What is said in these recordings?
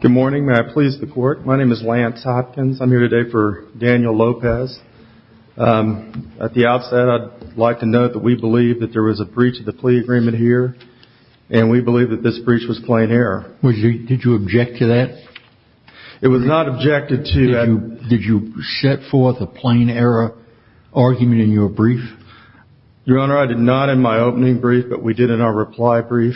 Good morning. May I please the court? My name is Lance Hopkins. I'm here today for Daniel Lopez. At the outset, I'd like to note that we believe that there was a breach of the plea agreement here, and we believe that this breach was plain error. Did you object to that? It was not objected to. Did you set forth a plain error argument in your brief? Your Honor, I did not in my opening brief, but we did in our reply brief.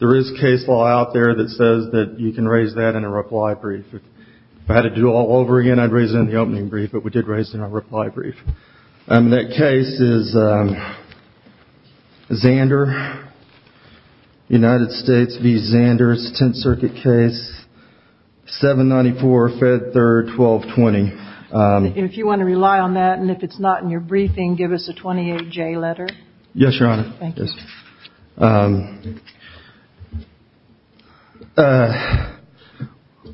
There is case law out there that says that you can raise that in a reply brief. If I had to do it all over again, I'd raise it in the opening brief, but we did raise it in our reply brief. That case is Xander, United States v. Xander's Tenth Circuit case, 794 Fed 3rd, 1220. If you want to rely on that, and if it's not in your briefing, give us a 28J letter. Yes, Your Honor. Thank you.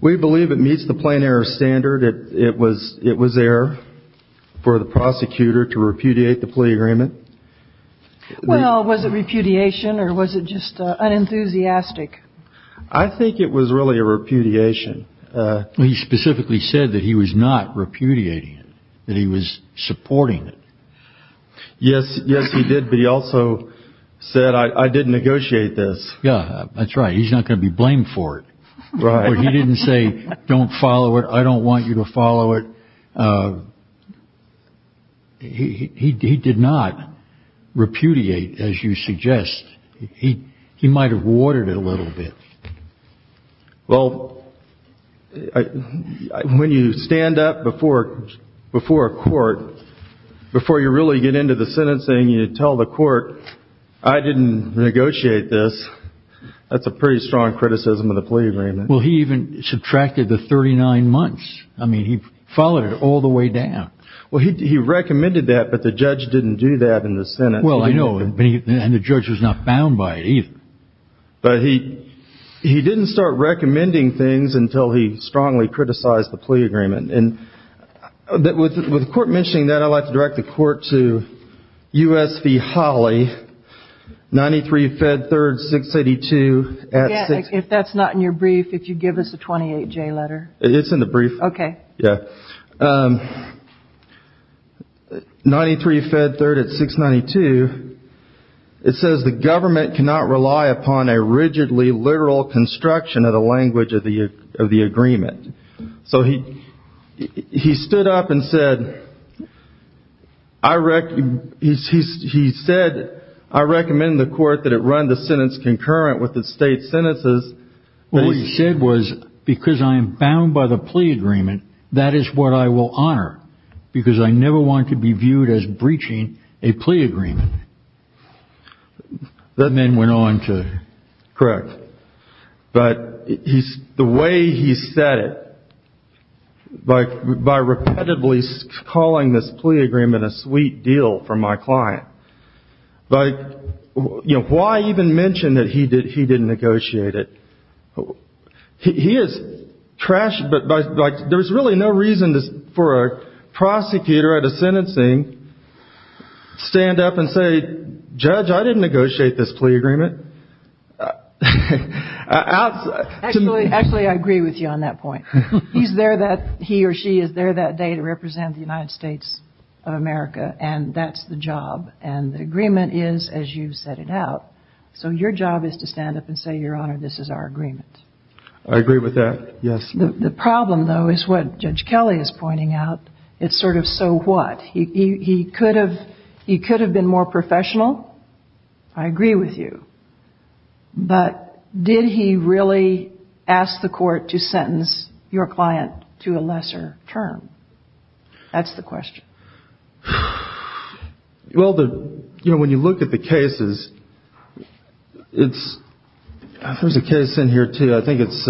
We believe it meets the plain error standard. It was there for the prosecutor to repudiate the plea agreement. Well, was it repudiation, or was it just unenthusiastic? I think it was really a repudiation. He specifically said that he was not repudiating it, that he was supporting it. Yes, he did, but he also said, I didn't negotiate this. Yeah, that's right. He's not going to be blamed for it. He didn't say, don't follow it. I don't want you to follow it. He did not repudiate, as you suggest. He might have watered it a little bit. Well, when you stand up before a court, before you really get into the sentencing, you tell the court, I didn't negotiate this. That's a pretty strong criticism of the plea agreement. Well, he even subtracted the 39 months. I mean, he followed it all the way down. Well, he recommended that, but the judge didn't do that in the Senate. Well, I know, and the judge was not bound by it either. But he didn't start recommending things until he strongly criticized the plea agreement. And with the court mentioning that, I'd like to direct the court to U.S. v. Holly, 93-Fed-3rd-682. Again, if that's not in your brief, if you give us a 28-J letter. It's in the brief. Okay. Yeah. 93-Fed-3rd-692, it says the government cannot rely upon a rigidly literal construction of the language of the agreement. So he stood up and said, I recommend the court that it run the sentence concurrent with the state sentences. All he said was, because I am bound by the plea agreement, that is what I will honor. Because I never want to be viewed as breaching a plea agreement. That then went on to... Correct. But the way he said it, by repetitively calling this plea agreement a sweet deal for my client. Like, you know, why even mention that he didn't negotiate it? He is trash, but like, there's really no reason for a prosecutor at a sentencing stand up and say, Judge, I didn't negotiate this plea agreement. Actually, I agree with you on that point. He's there that, he or she is there that day to represent the United States of America. And that's the job. And the agreement is as you've set it out. So your job is to stand up and say, Your Honor, this is our agreement. I agree with that, yes. The problem, though, is what Judge Kelly is pointing out. It's sort of, so what? He could have been more professional. I agree with you. But did he really ask the court to sentence your client to a lesser term? That's the question. Well, the, you know, when you look at the cases, it's, there's a case in here, too. I think it's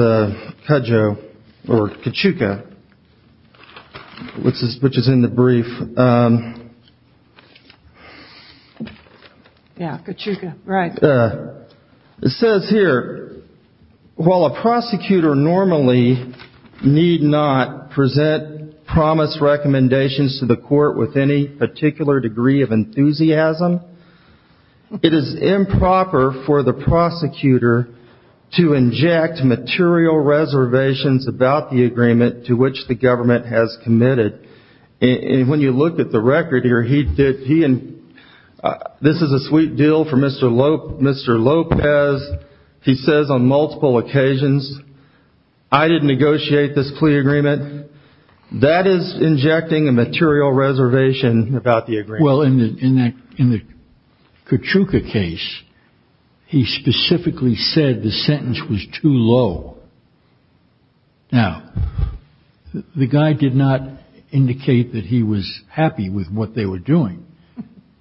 Kadjo or Kachuka, which is in the brief. Yeah, Kachuka, right. It says here, while a prosecutor normally need not present promise recommendations to the court with any particular degree of enthusiasm, it is improper for the prosecutor to inject material reservations about the agreement to which the government has committed. And when you look at the record here, he did, he and, this is a sweet deal for Mr. Lopez. He says on multiple occasions, I didn't negotiate this plea agreement. That is injecting a material reservation about the agreement. Well, in the Kachuka case, he specifically said the sentence was too low. Now, the guy did not indicate that he was happy with what they were doing.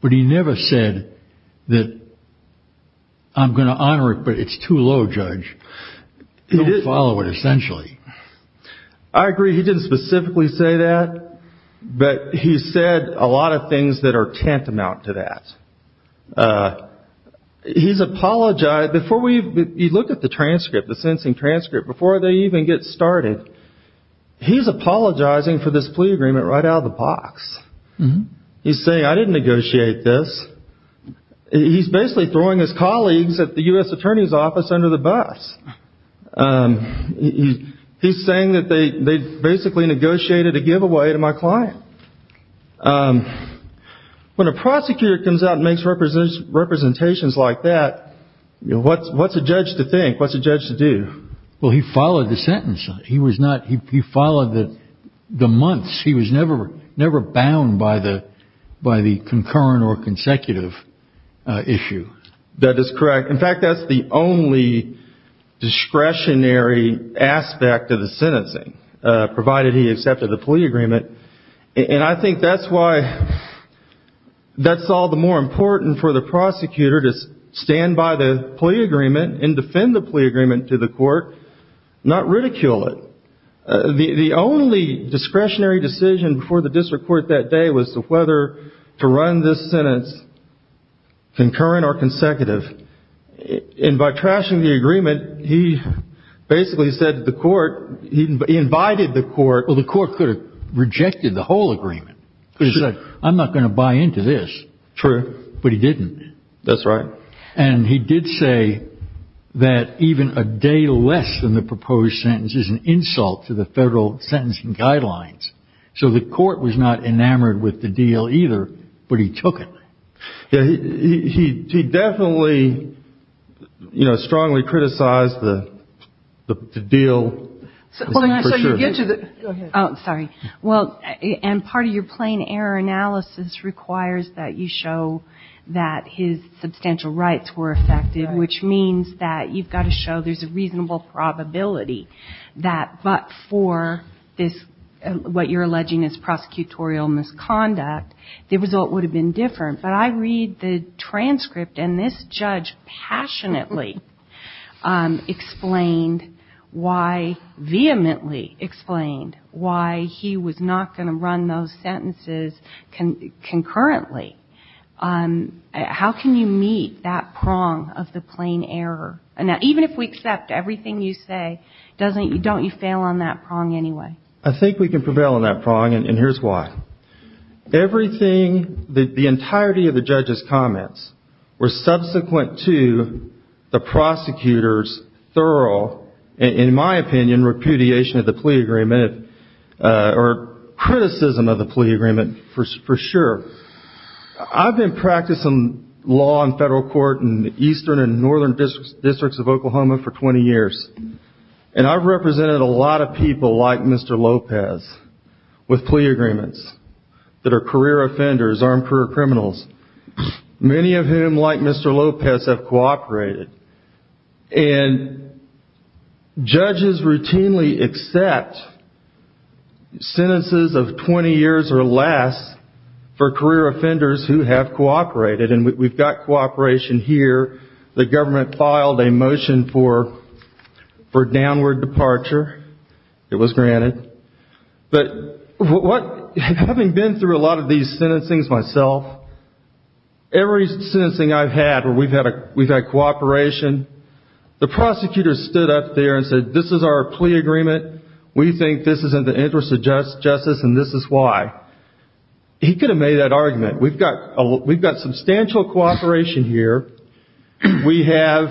But he never said that I'm going to honor it, but it's too low, Judge. He didn't follow it, essentially. I agree, he didn't specifically say that, but he said a lot of things that are tantamount to that. He's apologized, before we, he looked at the transcript, the sentencing transcript, before they even get started, he's apologizing for this plea agreement right out of the box. He's saying, I didn't negotiate this. He's basically throwing his colleagues at the U.S. Attorney's Office under the bus. He's saying that they basically negotiated a giveaway to my client. When a prosecutor comes out and makes representations like that, what's a judge to think? What's a judge to do? Well, he followed the sentence. He was not, he followed the months. He was never bound by the concurrent or consecutive issue. That is correct. In fact, that's the only discretionary aspect of the sentencing. Provided he accepted the plea agreement. And I think that's why, that's all the more important for the prosecutor to stand by the plea agreement and defend the plea agreement to the court, not ridicule it. The only discretionary decision before the district court that day was whether to run this sentence concurrent or consecutive. And by trashing the agreement, he basically said to the court, he invited the court. Well, the court could have rejected the whole agreement. I'm not going to buy into this. True. But he didn't. That's right. And he did say that even a day less than the proposed sentence is an insult to the federal sentencing guidelines. So the court was not enamored with the deal either, but he took it. He definitely, you know, strongly criticized the deal. Hold on, so you get to the, go ahead. Oh, sorry. Well, and part of your plain error analysis requires that you show that his substantial rights were affected, which means that you've got to show there's a reasonable probability that but for this, what you're alleging is prosecutorial misconduct, the result would have been different. But I read the transcript and this judge passionately explained why, vehemently explained why he was not going to run those sentences concurrently. How can you meet that prong of the plain error? And even if we accept everything you say, don't you fail on that prong anyway? I think we can prevail on that prong, and here's why. Everything, the entirety of the judge's comments were subsequent to the prosecutor's thorough, in my opinion, repudiation of the plea agreement or criticism of the plea agreement for sure. I've been practicing law in federal court in the eastern and northern districts of Oklahoma for 20 years, and I've represented a lot of people like Mr. Lopez with plea agreements that are career offenders, armed career criminals, many of whom, like Mr. Lopez, have cooperated. And judges routinely accept sentences of 20 years or less for career offenders who have cooperated, and we've got cooperation here. The government filed a motion for downward departure. It was granted. But having been through a lot of these sentencings myself, every sentencing I've had where we've had cooperation, the prosecutor stood up there and said, this is our plea agreement, we think this is in the interest of justice, and this is why. He could have made that argument. There's substantial cooperation here. We have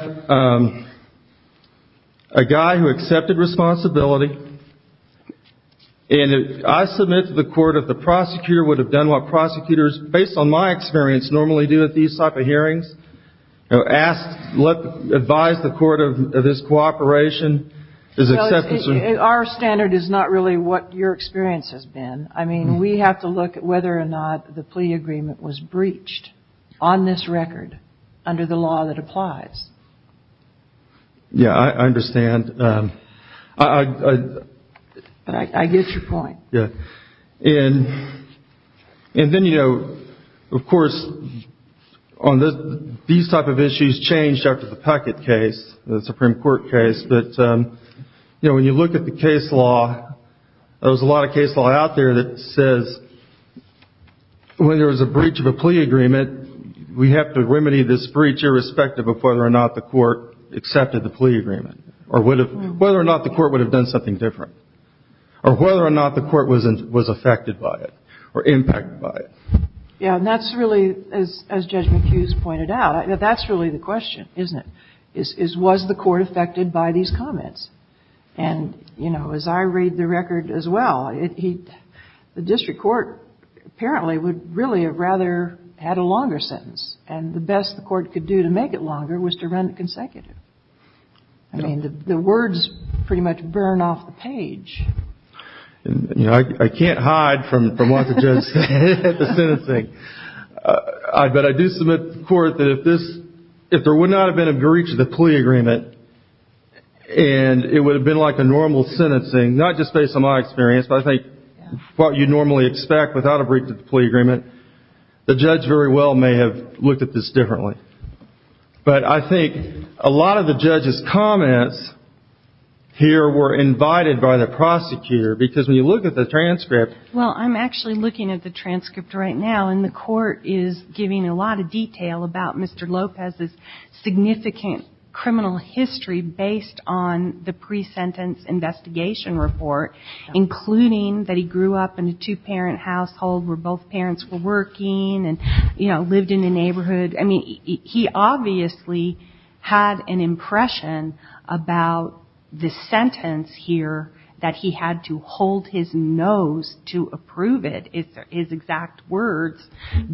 a guy who accepted responsibility, and if I submit to the court that the prosecutor would have done what prosecutors, based on my experience, normally do at these type of hearings, advise the court of this cooperation, is acceptance of... Our standard is not really what your experience has been. I mean, we have to look at whether or not the plea agreement was breached on this record under the law that applies. Yeah, I understand. I... I get your point. And then, you know, of course, these type of issues changed after the Peckett case, the Supreme Court case, but when you look at the case law, there's a lot of case law out there that says when there is a breach of a plea agreement, we have to remedy this breach irrespective of whether or not the court accepted the plea agreement, or whether or not the court would have done something different, or whether or not the court was affected by it, or impacted by it. Yeah, and that's really, as Judge McHugh has pointed out, that's really the question, isn't it? Is, was the court affected by these comments? And, you know, as I read the record as well, the district court apparently would really have rather had a longer sentence, and the best the court could do to make it longer was to run it consecutive. I mean, the words pretty much burn off the page. You know, I can't hide from what the judge said at the sentencing. But I do submit to the court that if this, if there would not have been a breach of the plea agreement, and it would have been like a normal sentencing, not just based on my experience, but I think what you normally expect without a breach of the plea agreement, the judge very well may have looked at this differently. But I think a lot of the judge's comments here were invited by the prosecutor, because when you look at the transcript... Well, I'm actually looking at the transcript right now, and the court is giving a lot of detail about Mr. Lopez's significant criminal history based on the pre-sentence investigation report, including that he grew up in a two-parent household where both parents were working and, you know, lived in a neighborhood. I mean, he obviously had an impression about the sentence here that he had to hold his nose to approve it, his exact words,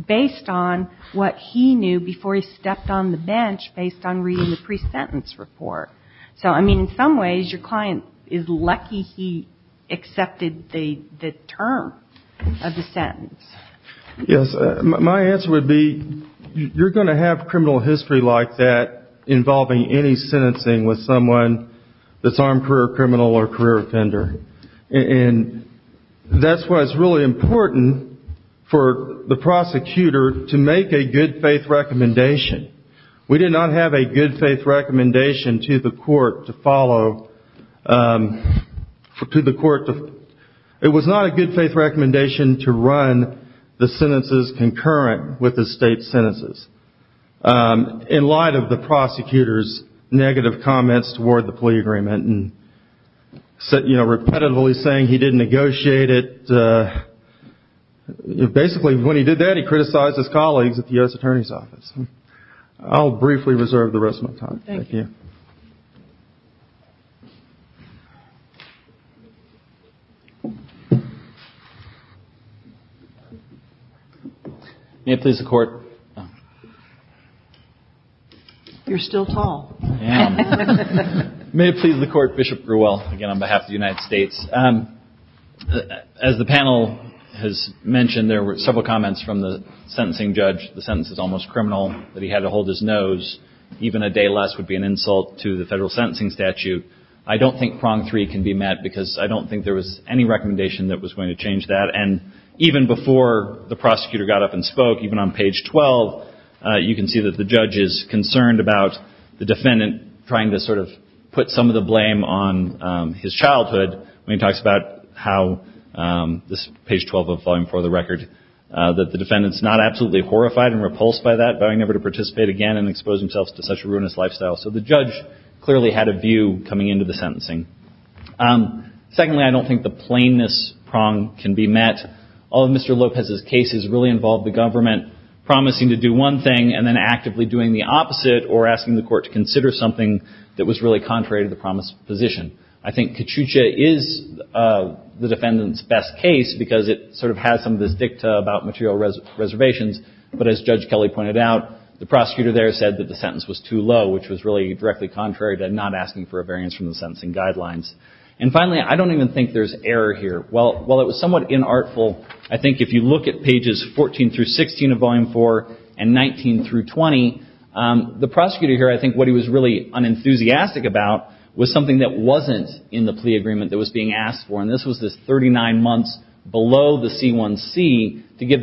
based on what he knew before he stepped on the bench based on reading the pre-sentence report. So, I mean, in some ways, your client is lucky he accepted the term of the sentence. Yes. My answer would be you're going to have criminal history like that involving any sentencing with someone that's armed career criminal or career offender. And that's why it's really important for the prosecutor to make a good-faith recommendation. We did not have a good-faith recommendation to the court to follow to the court to it was not a good-faith recommendation to run the sentences concurrent with the state sentences in light of the prosecutor's negative comments toward the plea agreement and, you know, repetitively saying he didn't negotiate it. Basically, when he did that, he criticized his colleagues at the U.S. Attorney's Office. I'll briefly reserve the rest of my time. Thank you. May it please the Court. You're still tall. May it please the Court. Bishop Grewell, again, on behalf of the United States. As the panel has mentioned, there were several comments from the sentencing judge. The sentence is almost criminal that he had to hold his nose because that would be an insult to the federal sentencing statute. I don't think prong three can be met because I don't think there was any recommendation that was going to change that. And even before the prosecutor got up and spoke, even on page 12, you can see that the judge is concerned about the defendant trying to sort of put some of the blame on his childhood. When he talks about how this page 12 of Volume 4 of the record that the defendant's not absolutely horrified and repulsed by that, but he's vowing never to participate again and expose himself to such a ruinous lifestyle. So the judge clearly had a view coming into the sentencing. Secondly, I don't think the plainness prong can be met. All of Mr. Lopez's cases really involved the government promising to do one thing and then actively doing the opposite or asking the Court to consider something that was really contrary to the promised position. I think Kachucha is the defendant's best case because it sort of has some of this dicta about material reservations. But the prosecutor there said that the sentence was too low which was really directly contrary to not asking for a variance from the sentencing guidelines. And finally, I don't even think there's error here. While it was somewhat inartful, I think if you look at pages 14 through 16 of Volume 4 and 19 through 20, the prosecutor here, I think what he was really unenthusiastic about was something that wasn't in the plea agreement that was being asked for. And this was the 39 months below the C1C to give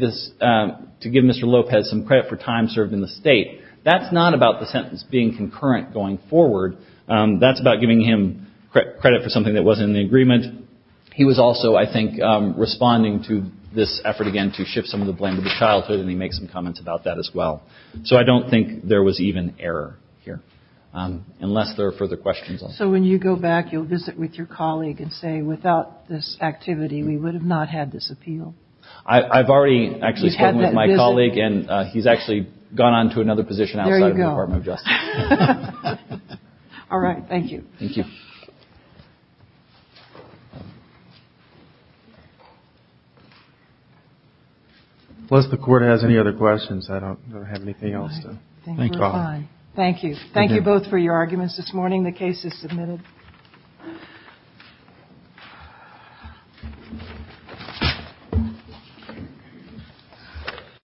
Mr. Lopez some credit for time served in the state. That's not about the sentence being concurrent going forward. That's about giving him credit for something that wasn't in the agreement. He was also, I think, responding to this effort again to shift some of the blame to the childhood and he makes some comments about that as well. So I don't think there was even error here unless there are further questions. So when you go back, you'll visit with your colleague and say, without this activity, we would have not had this appeal? I've already actually spoken with my colleague and he's actually gone on to another position outside of the Department of Justice. All right. Thank you. Thank you. Unless the court has any other questions, I don't have anything else. Thank you. Thank you both for your arguments this morning. The case is submitted.